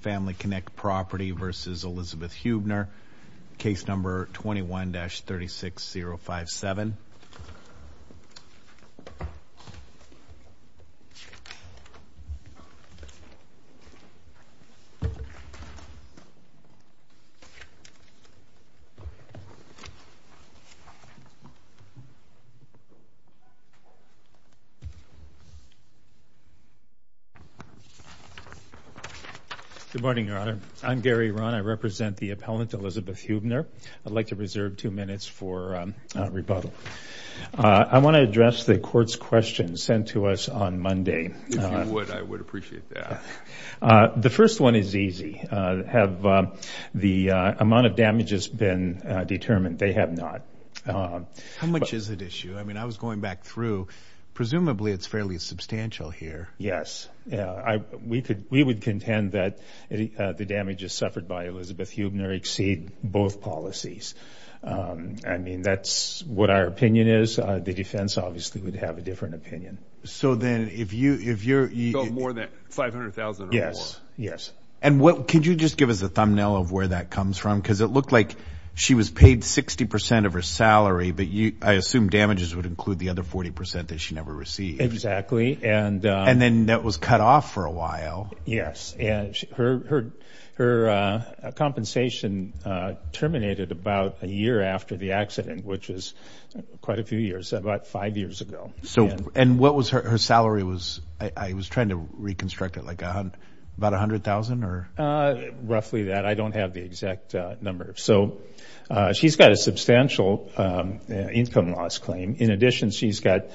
Family Connect Property v. Elizabeth Huebner, I'm Gary Rahn. I represent the appellant, Elizabeth Huebner. I'd like to reserve two minutes for rebuttal. I want to address the court's questions sent to us on Monday. If you would, I would appreciate that. The first one is easy. Have the amount of damages been determined? They have not. How much is at issue? I mean, I was going back through. Presumably it's fairly substantial here. Yes. We would contend that the damages suffered by Elizabeth Huebner exceed both policies. I mean, that's what our opinion is. The defense obviously would have a different opinion. So then, if you're... So more than $500,000 or more? Yes, yes. And could you just give us a thumbnail of where that comes from? Because it looked like she was paid 60% of her salary, but I assume damages would include the other 40% that she never received. Exactly. And then that was cut off for a while. Yes. And her compensation terminated about a year after the accident, which is quite a few years, about five years ago. And what was her salary? I was trying to reconstruct it, like about $100,000? Roughly that. I don't have the exact number. So she's got a substantial income loss claim. In addition, she's got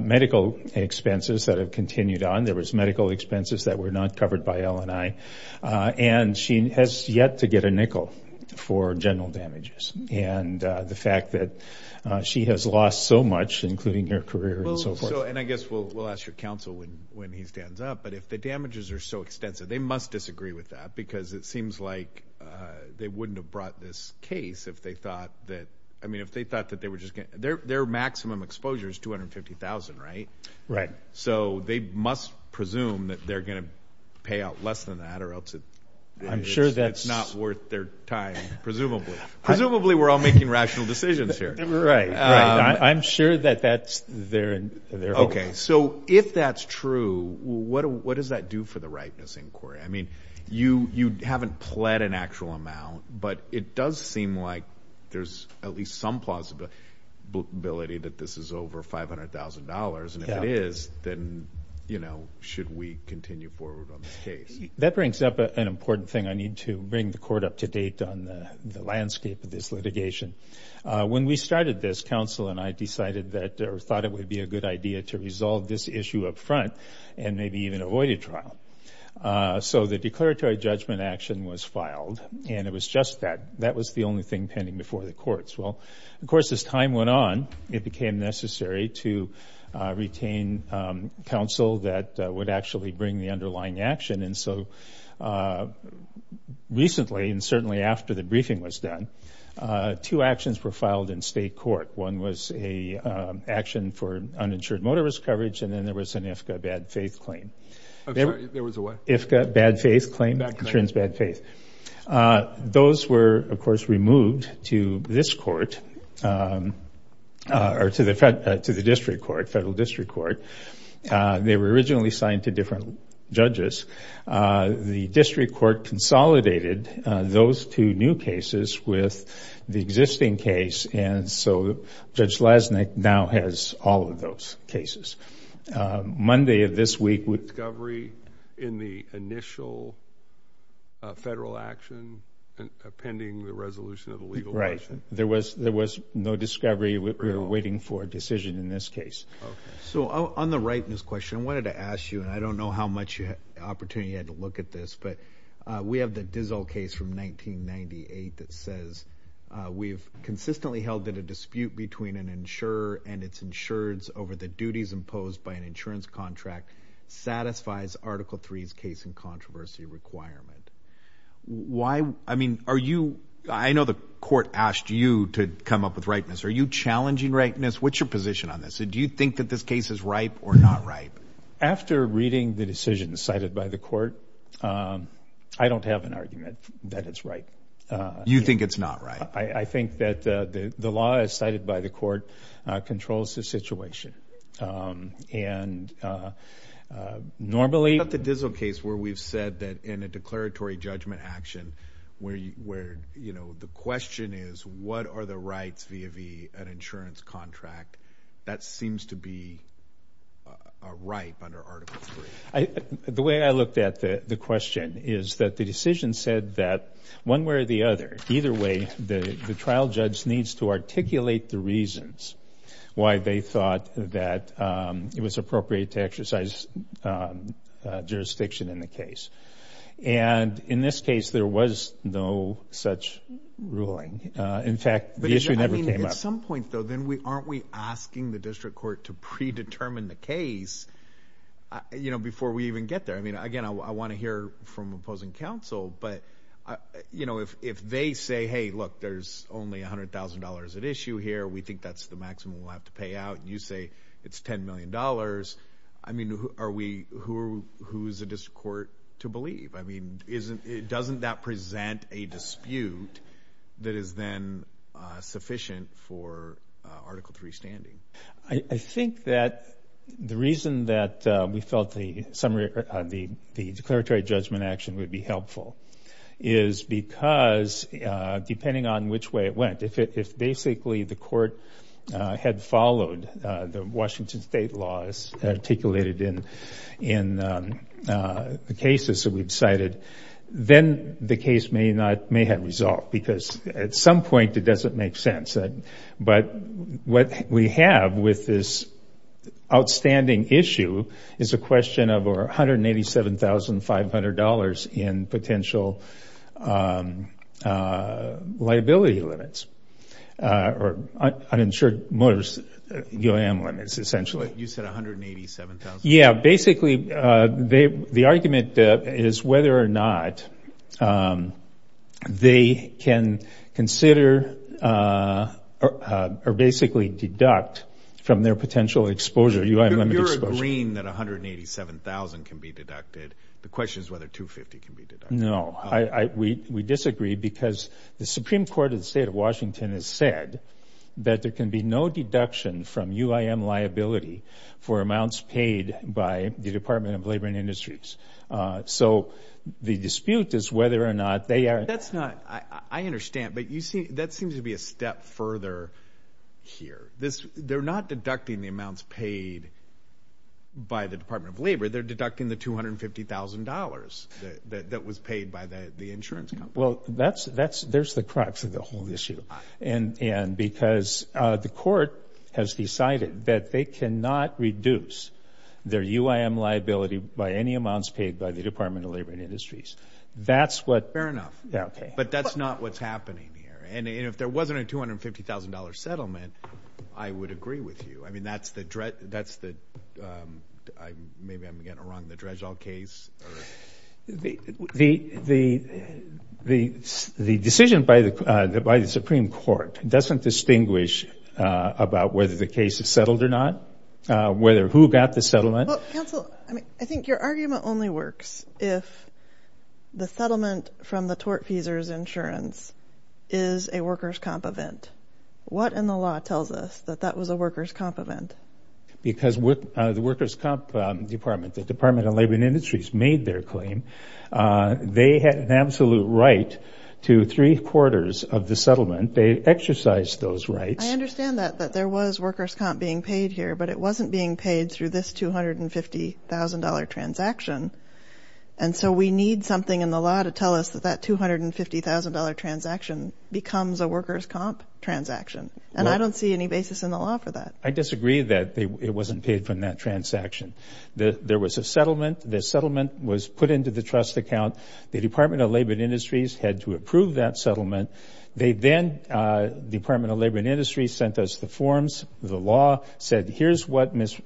medical expenses that have continued on. There was medical expenses that were not covered by LNI. And she has yet to get a nickel for general damages. And the fact that she has lost so much, including her career and so forth. And I guess we'll ask your counsel when he stands up. But if the damages are so extensive, they must disagree with that. Because it seems like they wouldn't have brought this case if they thought that... I mean, if they thought that they were just going... Their maximum exposure is $250,000, right? Right. So they must presume that they're going to pay out less than that, or else it's not worth their time, presumably. Presumably, we're all making rational decisions here. Right. I'm sure that that's their hope. Okay. So if that's true, what does that do for the rightness inquiry? I mean, you haven't pled an actual amount, but it does seem like there's at least some plausibility that this is over $500,000. And if it is, then should we continue forward on this case? That brings up an important thing I need to bring the court up to date on the landscape of this litigation. When we started this, counsel and I decided that, or thought it would be a good idea to resolve this issue up front, and maybe even avoid a trial. So the declaratory judgment action was filed. And it was just that. That was the only thing pending before the courts. Well, of course, as time went on, it became necessary to retain counsel that would actually bring the underlying action. And so recently, and certainly after the briefing was done, two actions were filed in state court. One was a action for uninsured to this court, or to the district court, federal district court. They were originally signed to different judges. The district court consolidated those two new cases with the existing case. And so Judge Lasnik now has all of those cases. Monday of this week would... Discovery in the initial federal action, pending the resolution of the legal action. Right. There was no discovery. We were waiting for a decision in this case. Okay. So on the right in this question, I wanted to ask you, and I don't know how much opportunity you had to look at this, but we have the Dizzle case from 1998 that says, we've consistently held that a dispute between an insurer and its insureds over the duties imposed by an insurance contract satisfies Article III's case in controversy requirement. Why, I mean, I know the court asked you to come up with rightness. Are you challenging rightness? What's your position on this? Do you think that this case is ripe or not ripe? After reading the decision cited by the court, I don't have an argument that it's ripe. You think it's not right? I think that the law as cited by the question is, what are the rights via the insurance contract? That seems to be a right under Article III. The way I looked at the question is that the decision said that one way or the other, either way, the trial judge needs to articulate the reasons why they thought that it was appropriate to exercise jurisdiction in the case. In this case, there was no such ruling. In fact, the issue never came up. At some point, though, then aren't we asking the district court to predetermine the case before we even get there? Again, I want to hear from opposing counsel, but if they say, hey, look, there's only $100,000 at issue here. We think that's the maximum we'll have to pay out. You say it's $10 million. Who is the district court to believe? Doesn't that present a dispute that is then sufficient for Article III standing? I think that the reason that we felt the declaratory judgment action would be helpful is because depending on which way it went, if basically the court had with this outstanding issue is a question of $187,500 in potential liability limits or uninsured motors, UAM limits, essentially. You said $187,000? Yeah. Basically, the argument is whether or not they can consider or basically deduct from their potential exposure, UAM limit exposure. If you're agreeing that $187,000 can be deducted, the question is whether $250,000 can be deducted. No. We disagree because the Supreme Court of the State of Washington has said that there can be no deduction from UAM liability for amounts paid by the Department of Labor and Industries. So the dispute is whether or not they are- I understand, but that seems to be a step further here. They're not deducting the amounts paid by the Department of Labor. They're deducting the $250,000 that was paid by the insurance company. Well, there's the crux of the whole issue because the court has decided that they cannot reduce their UAM liability by any amounts But that's not what's happening here. And if there wasn't a $250,000 settlement, I would agree with you. I mean, that's the- maybe I'm getting around the Dredgeall case. The decision by the Supreme Court doesn't distinguish about whether the case is settled or not, whether who got the settlement. Well, counsel, I think your argument only works if the settlement from the tortfeasor's insurance is a workers' comp event. What in the law tells us that that was a workers' comp event? Because the workers' comp department, the Department of Labor and Industries made their claim. They had an absolute right to three quarters of the settlement. They exercised those rights. I understand that, that there was workers' comp being paid here, but it wasn't being paid through this $250,000 transaction. And so we need something in the law to tell us that that $250,000 transaction becomes a workers' comp transaction. And I don't see any basis in the law for that. I disagree that it wasn't paid from that transaction. There was a settlement. The settlement was put into the trust account. The Department of Labor and Industries sent us the forms. The law said, here's what Ms.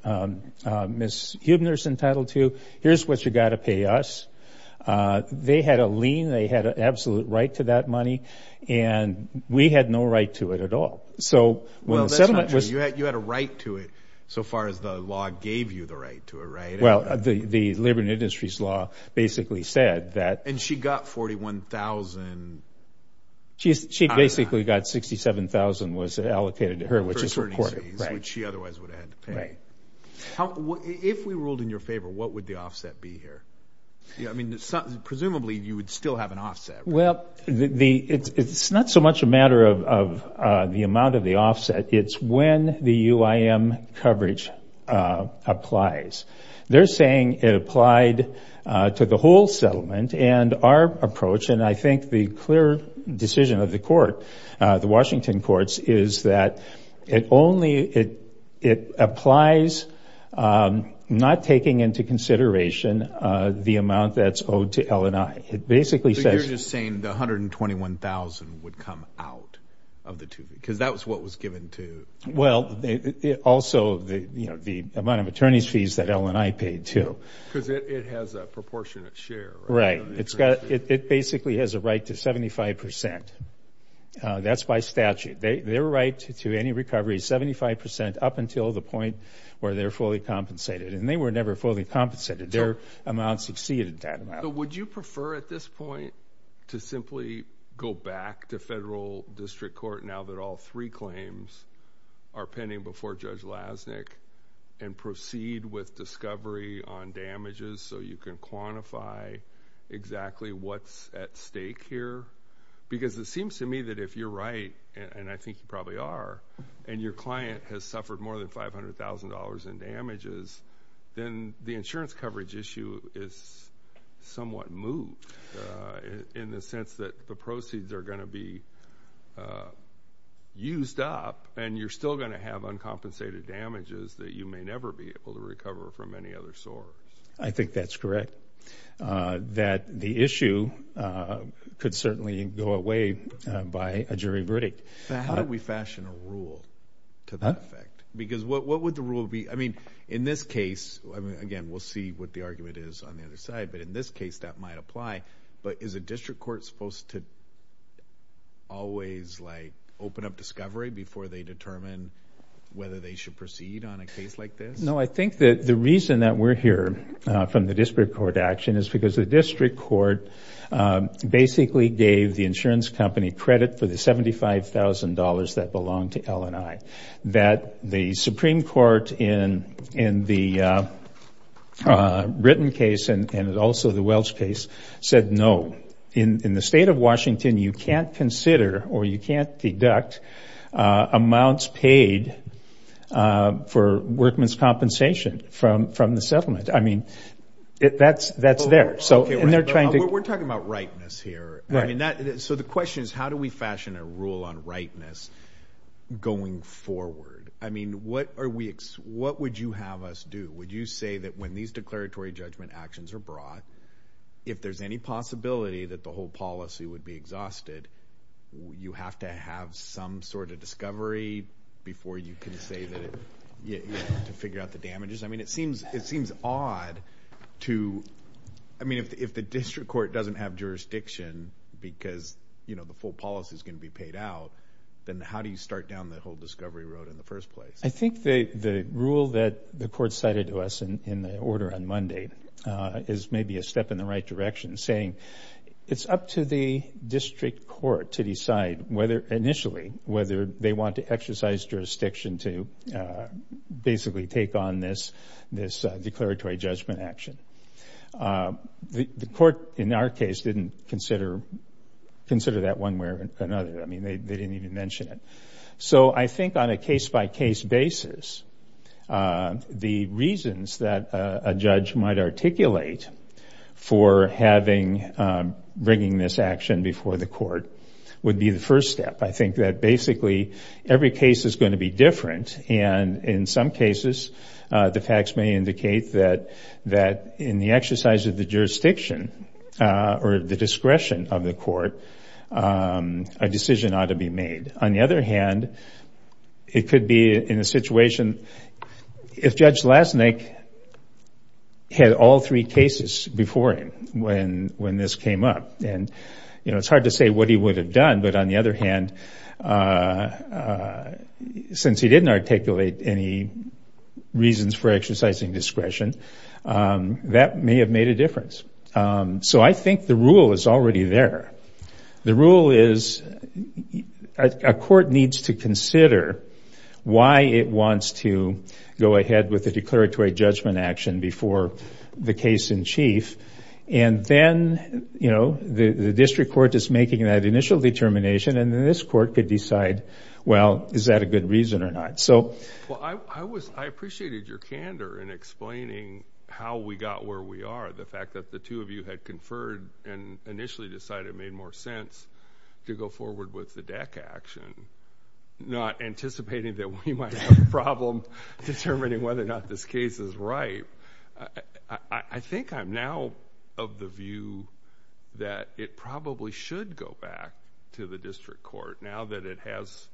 Huebner's entitled to. Here's what you've got to pay us. They had a lien. They had an absolute right to that money. And we had no right to it at all. Well, that's not true. You had a right to it so far as the law gave you the right to it, right? Well, the Labor and Industries law basically said that... And she got $41,000. She basically got $67,000 was allocated to her, which is reported. Which she otherwise would have had to pay. If we ruled in your favor, what would the offset be here? I mean, presumably you would still have an offset, right? Well, it's not so much a matter of the amount of the offset. It's when the UIM coverage applies. They're saying it applied to the whole settlement. And our approach, and I think the clear decision of the Washington courts, is that it applies not taking into consideration the amount that's owed to L&I. But you're just saying the $121,000 would come out of the two? Because that was what was given to... Well, also the amount of attorney's fees that L&I paid, too. Because it has a proportionate share. Right. It basically has a right to 75%. That's by statute. Their right to any recovery is 75% up until the point where they're fully compensated. And they were never fully compensated. Their amount succeeded that amount. So would you prefer at this point to simply go back to federal district court now that all three claims are pending before Judge Lasnik and proceed with discovery on damages so you can quantify exactly what's at stake here? Because it seems to me that if you're right, and I think you probably are, and your client has suffered more than $500,000 in damages, then the insurance coverage issue is somewhat moved in the sense that the proceeds are going to be used up, and you're still going to have uncompensated damages that you may never be able to recover from any other source. I think that's correct. That the issue could certainly go away by a jury verdict. How do we fashion a rule to that effect? Because what would the rule be? I mean, in this case, again, we'll see what the argument is on the other side, but in this case that might apply. But is a district court supposed to always open up discovery before they determine whether they should proceed on a case like this? No, I think that the reason that we're here from the district court action is because the district court basically gave the insurance company credit for the $75,000 that belonged to L&I. That the Supreme Court in the Ritten case and also the Welch case said no. In the state of Washington, you can't consider or you can't deduct amounts paid for workman's compensation from the settlement. I mean, that's there. We're talking about rightness here. So the question is how do we fashion a rule on rightness going forward? I mean, what would you have us do? Would you say that when these declaratory judgment actions are brought, if there's any possibility that the whole policy would be exhausted, you have to have some sort of discovery before you can say that you have to figure out the damages? I mean, it seems odd to – I mean, if the district court doesn't have jurisdiction because, you know, the full policy is going to be paid out, then how do you start down the whole discovery road in the first place? I think the rule that the court cited to us in the order on Monday is maybe a step in the right direction, saying it's up to the district court to decide initially whether they want to exercise jurisdiction to basically take on this declaratory judgment action. The court in our case didn't consider that one way or another. I mean, they didn't even mention it. So I think on a case-by-case basis, the reasons that a judge might articulate for having – bringing this action before the court would be the first step. I think that basically every case is going to be different, and in some cases, the facts may indicate that in the exercise of the jurisdiction or the discretion of the court, a decision ought to be made. On the other hand, it could be in a situation – if Judge Lasnik had all three cases before him when this came up, and it's hard to say what he would have done, but on the other hand, since he didn't articulate any reasons for exercising discretion, that may have made a difference. So I think the rule is already there. The rule is a court needs to consider why it wants to go ahead with the declaratory judgment action before the case in chief, and then the district court is making that initial determination, and then this court could decide, well, is that a good reason or not? Well, I appreciated your candor in explaining how we got where we are, the fact that the two of you had conferred and initially decided it made more sense to go forward with the DEC action, not anticipating that we might have a problem determining whether or not this case is right. I think I'm now of the view that it probably should go back to the district court now that it has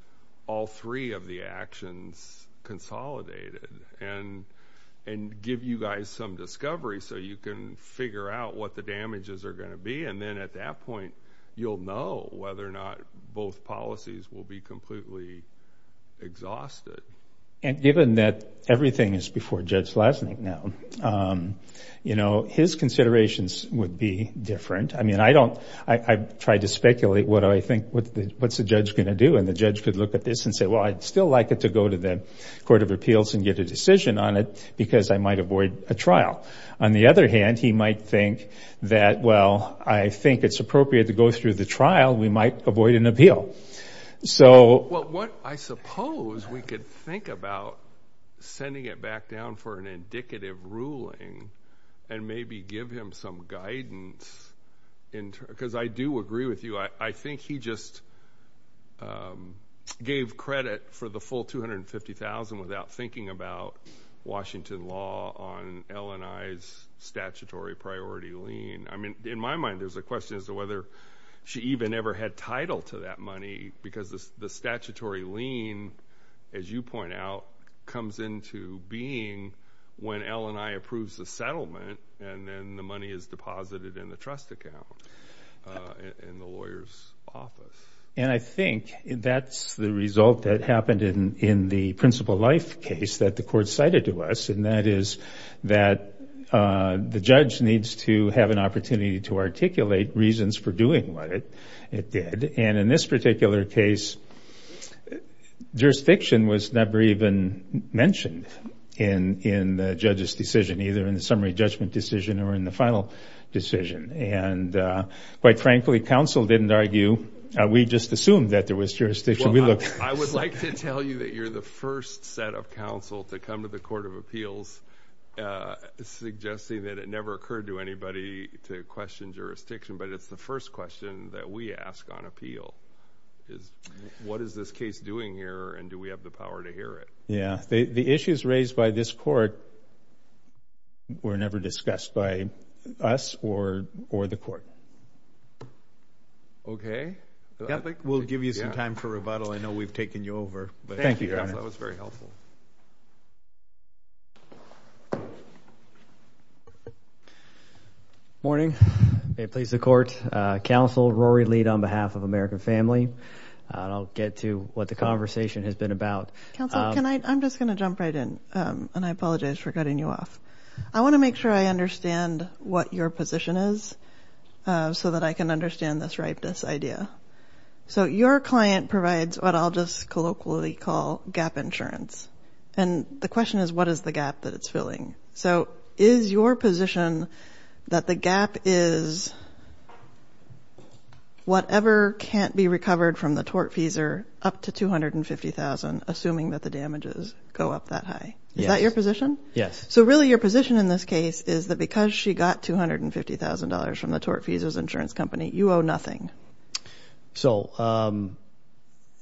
all three of the actions consolidated and give you guys some discovery so you can figure out what the damages are going to be, and then at that point, you'll know whether or not both policies will be completely exhausted. And given that everything is before Judge Lasnik now, you know, his considerations would be different. I mean, I don't – I try to speculate what I think what's the judge going to do, and the judge could look at this and say, well, I'd still like it to go to the court of appeals and get a decision on it because I might avoid a trial. On the other hand, he might think that, well, I think it's appropriate to go through the trial. We might avoid an appeal. Well, I suppose we could think about sending it back down for an indicative ruling and maybe give him some guidance because I do agree with you. I think he just gave credit for the full $250,000 without thinking about Washington law on L&I's statutory priority lien. I mean, in my mind, there's a question as to whether she even ever had title to that money because the statutory lien, as you point out, comes into being when L&I approves the settlement and then the money is deposited in the trust account in the lawyer's office. And I think that's the result that happened in the principal life case that the court cited to us, and that is that the judge needs to have an opportunity to articulate reasons for doing what it did. And in this particular case, jurisdiction was never even mentioned in the judge's decision, either in the summary judgment decision or in the final decision. And quite frankly, counsel didn't argue. We just assumed that there was jurisdiction. I would like to tell you that you're the first set of counsel to come to the Court of Appeals suggesting that it never occurred to anybody to question jurisdiction, but it's the first question that we ask on appeal. What is this case doing here, and do we have the power to hear it? Yeah. The issues raised by this court were never discussed by us or the court. Okay. We'll give you some time for rebuttal. I know we've taken you over. Thank you, counsel. That was very helpful. Morning. May it please the Court. Counsel Rory Lead on behalf of American Family. I'll get to what the conversation has been about. Counsel, I'm just going to jump right in, and I apologize for cutting you off. I want to make sure I understand what your position is so that I can understand this ripeness idea. So your client provides what I'll just colloquially call gap insurance. And the question is, what is the gap that it's filling? So is your position that the gap is whatever can't be recovered from the tortfeasor up to $250,000, assuming that the damages go up that high? Yes. Is that your position? Yes. So really your position in this case is that because she got $250,000 from the tortfeasor's insurance company, you owe nothing. So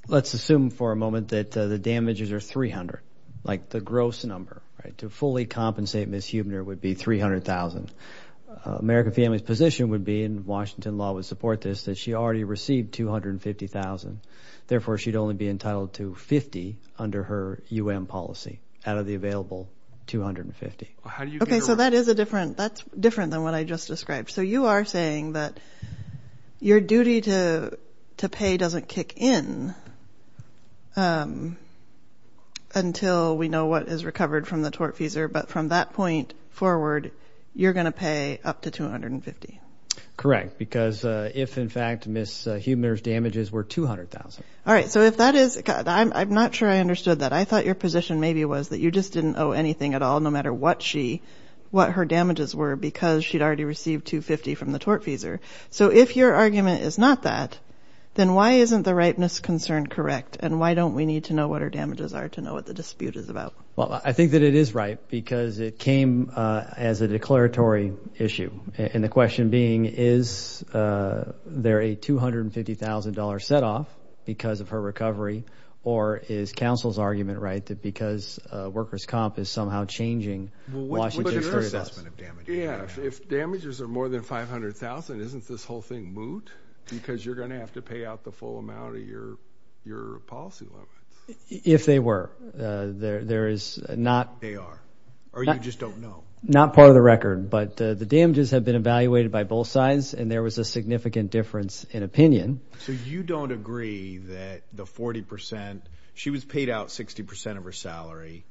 let's assume for a moment that the damages are $300,000, like the gross number. To fully compensate Ms. Huebner would be $300,000. American Family's position would be, and Washington law would support this, that she already received $250,000. Therefore, she'd only be entitled to $50,000 under her U.M. policy out of the available $250,000. Okay, so that is different than what I just described. So you are saying that your duty to pay doesn't kick in until we know what is recovered from the tortfeasor, but from that point forward, you're going to pay up to $250,000. Correct, because if in fact Ms. Huebner's damages were $200,000. All right, so if that is, I'm not sure I understood that. I thought your position maybe was that you just didn't owe anything at all, no matter what she, what her damages were because she'd already received $250,000 from the tortfeasor. So if your argument is not that, then why isn't the ripeness concern correct, and why don't we need to know what her damages are to know what the dispute is about? Well, I think that it is right because it came as a declaratory issue. And the question being, is there a $250,000 setoff because of her recovery, or is counsel's argument right that because workers' comp is somehow changing, Washington is hurting us? Well, what is your assessment of damages? Yeah, if damages are more than $500,000, isn't this whole thing moot? Because you're going to have to pay out the full amount of your policy limits. If they were, there is not. They are, or you just don't know. Not part of the record, but the damages have been evaluated by both sides, and there was a significant difference in opinion. So you don't agree that the 40%, she was paid out 60% of her salary.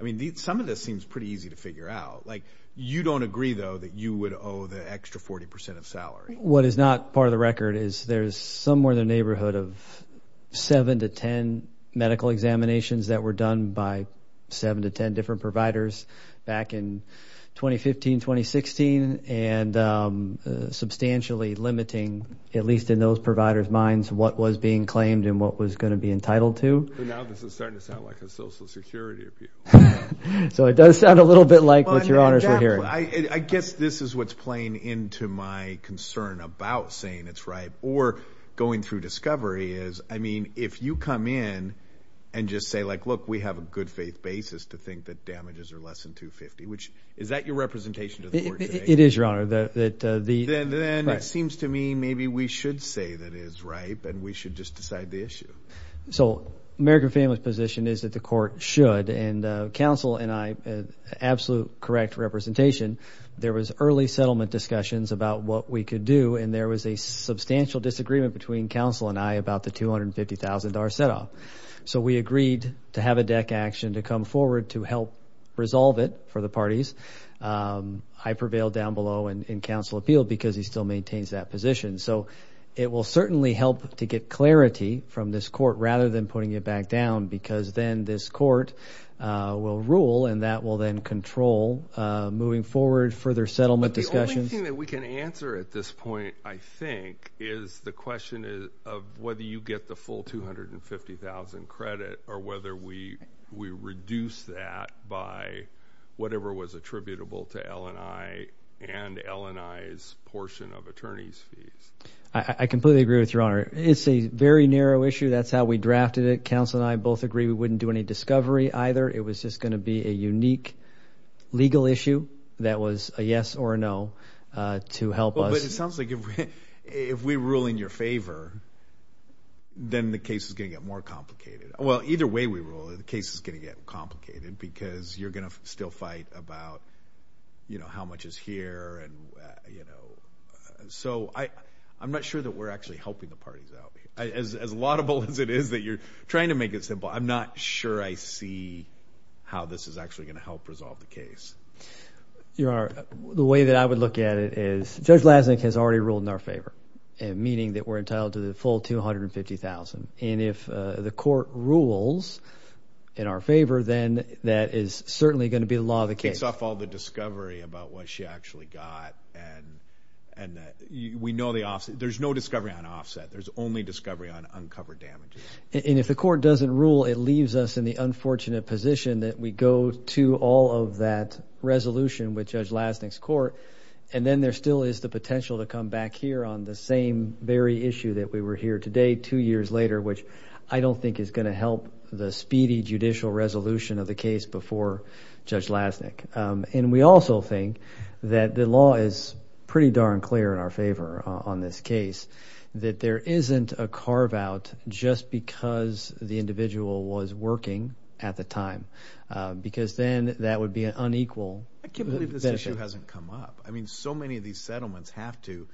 I mean, some of this seems pretty easy to figure out. Like, you don't agree, though, that you would owe the extra 40% of salary. What is not part of the record is there's somewhere in the neighborhood of seven to ten medical examinations that were done by seven to ten different providers back in 2015, 2016, and substantially limiting, at least in those providers' minds, what was being claimed and what was going to be entitled to. Now this is starting to sound like a Social Security appeal. So it does sound a little bit like what your honors are hearing. I guess this is what's playing into my concern about saying it's right, or going through discovery is, I mean, if you come in and just say, like, look, we have a good faith basis to think that damages are less than 250, which is that your representation to the court today? It is, Your Honor. Then it seems to me maybe we should say that it is right, and we should just decide the issue. So American Families' position is that the court should, and counsel and I, absolute correct representation, there was early settlement discussions about what we could do, and there was a substantial disagreement between counsel and I about the $250,000 set-off. So we agreed to have a deck action to come forward to help resolve it for the parties. I prevailed down below in counsel appeal because he still maintains that position. So it will certainly help to get clarity from this court rather than putting it back down because then this court will rule, and that will then control moving forward further settlement discussions. But the only thing that we can answer at this point, I think, is the question of whether you get the full $250,000 credit or whether we reduce that by whatever was attributable to L&I and L&I's portion of attorney's fees. I completely agree with you, Your Honor. It's a very narrow issue. That's how we drafted it. Counsel and I both agree we wouldn't do any discovery either. It was just going to be a unique legal issue that was a yes or a no to help us. It sounds like if we rule in your favor, then the case is going to get more complicated. Well, either way we rule, the case is going to get complicated because you're going to still fight about how much is here. So I'm not sure that we're actually helping the parties out. As laudable as it is that you're trying to make it simple, I'm not sure I see how this is actually going to help resolve the case. Your Honor, the way that I would look at it is Judge Lasnik has already ruled in our favor, meaning that we're entitled to the full $250,000. And if the court rules in our favor, then that is certainly going to be the law of the case. Takes off all the discovery about what she actually got. There's no discovery on offset. There's only discovery on uncovered damages. And if the court doesn't rule, it leaves us in the unfortunate position that we go to all of that resolution with Judge Lasnik's court, and then there still is the potential to come back here on the same very issue that we were here today two years later, which I don't think is going to help the speedy judicial resolution of the case before Judge Lasnik. And we also think that the law is pretty darn clear in our favor on this case, that there isn't a carve-out just because the individual was working at the time, because then that would be an unequal benefit. I can't believe this issue hasn't come up. I mean, so many of these settlements have to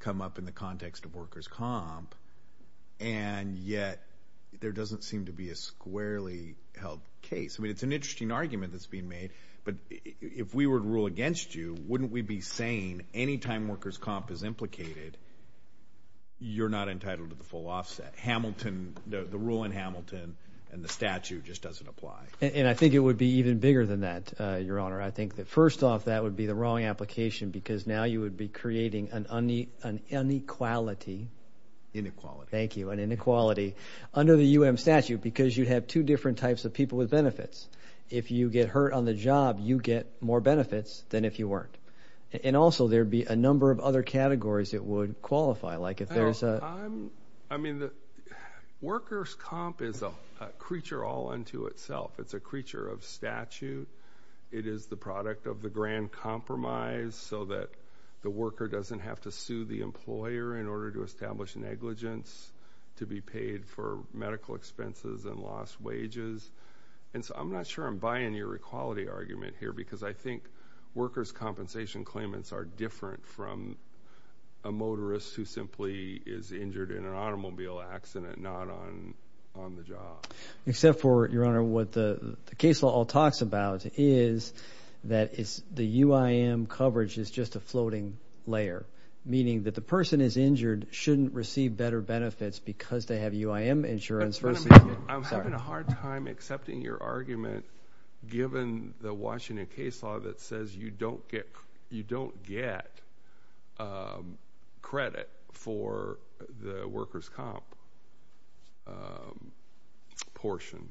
come up in the context of workers' comp, and yet there doesn't seem to be a squarely held case. I mean, it's an interesting argument that's being made, but if we were to rule against you, wouldn't we be saying any time workers' comp is implicated, you're not entitled to the full offset? Hamilton, the rule in Hamilton and the statute just doesn't apply. And I think it would be even bigger than that, Your Honor. I think that first off, that would be the wrong application because now you would be creating an inequality. Thank you. An inequality under the U.M. statute because you'd have two different types of people with benefits. If you get hurt on the job, you get more benefits than if you weren't. And also, there would be a number of other categories it would qualify, like if there's a— I mean, workers' comp is a creature all unto itself. It's a creature of statute. It is the product of the grand compromise so that the worker doesn't have to sue the employer in order to establish negligence to be paid for medical expenses and lost wages. And so I'm not sure I'm buying your equality argument here because I think workers' compensation claimants are different from a motorist who simply is injured in an automobile accident, not on the job. Except for, Your Honor, what the case law talks about is that the UIM coverage is just a floating layer, meaning that the person is injured shouldn't receive better benefits because they have UIM insurance. I'm having a hard time accepting your argument given the Washington case law that says you don't get credit for the workers' comp portion.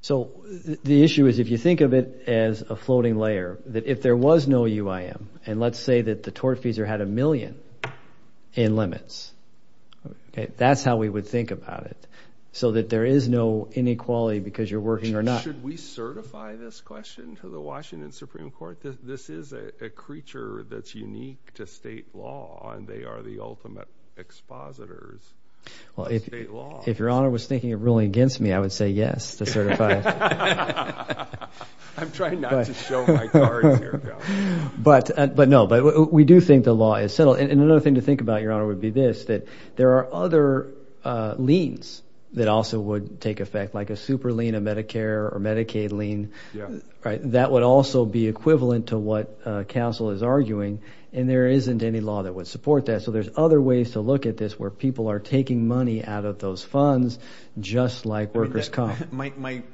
So the issue is if you think of it as a floating layer, that if there was no UIM, and let's say that the tortfeasor had a million in limits, that's how we would think about it, so that there is no inequality because you're working or not. Should we certify this question to the Washington Supreme Court? This is a creature that's unique to state law, and they are the ultimate expositors of state law. If Your Honor was thinking of ruling against me, I would say yes to certify it. I'm trying not to show my cards here. But no, we do think the law is settled. Well, and another thing to think about, Your Honor, would be this, that there are other liens that also would take effect, like a super lien, a Medicare or Medicaid lien. That would also be equivalent to what counsel is arguing, and there isn't any law that would support that. So there's other ways to look at this where people are taking money out of those funds just like workers' comp.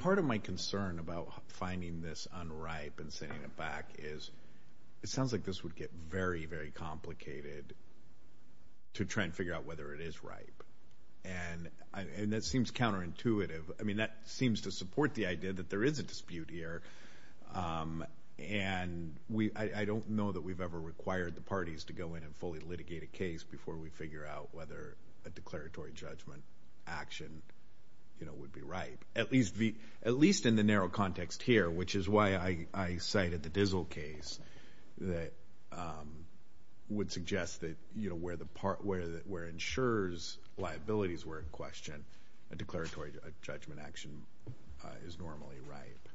Part of my concern about finding this unripe and sending it back is it sounds like this would get very, very complicated to try and figure out whether it is ripe, and that seems counterintuitive. I mean, that seems to support the idea that there is a dispute here, and I don't know that we've ever required the parties to go in and fully litigate a case before we figure out whether a declaratory judgment action would be ripe, at least in the narrow context here, which is why I cited the Dizzle case that would suggest that where insurer's liabilities were in question, a declaratory judgment action is normally ripe.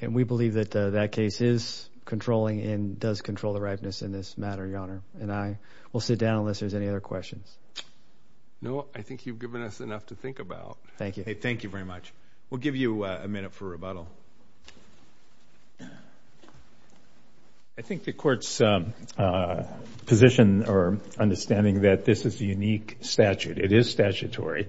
And we believe that that case is controlling and does control the ripeness in this matter, Your Honor. And I will sit down unless there's any other questions. No, I think you've given us enough to think about. Thank you. Thank you very much. We'll give you a minute for rebuttal. I think the Court's position or understanding that this is a unique statute, it is statutory.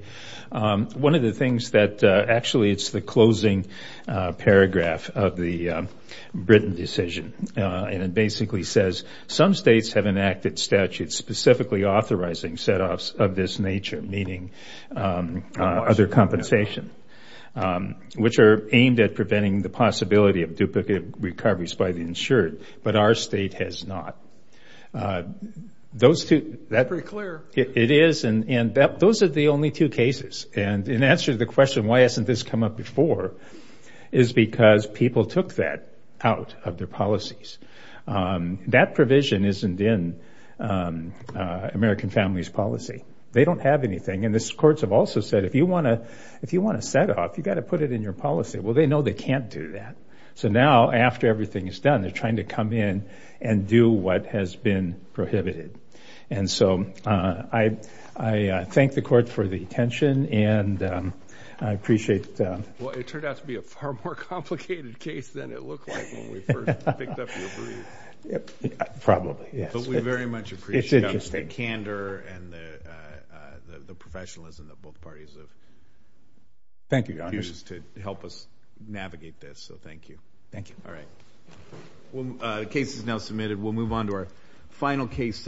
One of the things that actually it's the closing paragraph of the Britain decision, and it basically says some states have enacted statutes specifically authorizing set-offs of this nature, meaning other compensation, which are aimed at preventing the possibility of duplicate recoveries by the insured, but our state has not. That's pretty clear. It is, and those are the only two cases. And in answer to the question, why hasn't this come up before, is because people took that out of their policies. That provision isn't in American Families Policy. They don't have anything. And the courts have also said, if you want a set-off, you've got to put it in your policy. Well, they know they can't do that. So now, after everything is done, they're trying to come in and do what has been prohibited. And so I thank the Court for the attention, and I appreciate it. Well, it turned out to be a far more complicated case than it looked like when we first picked up your brief. Probably, yes. But we very much appreciate the candor and the professionalism that both parties have used to help us navigate this. So thank you. Thank you. All right. The case is now submitted. We'll move on to our final case.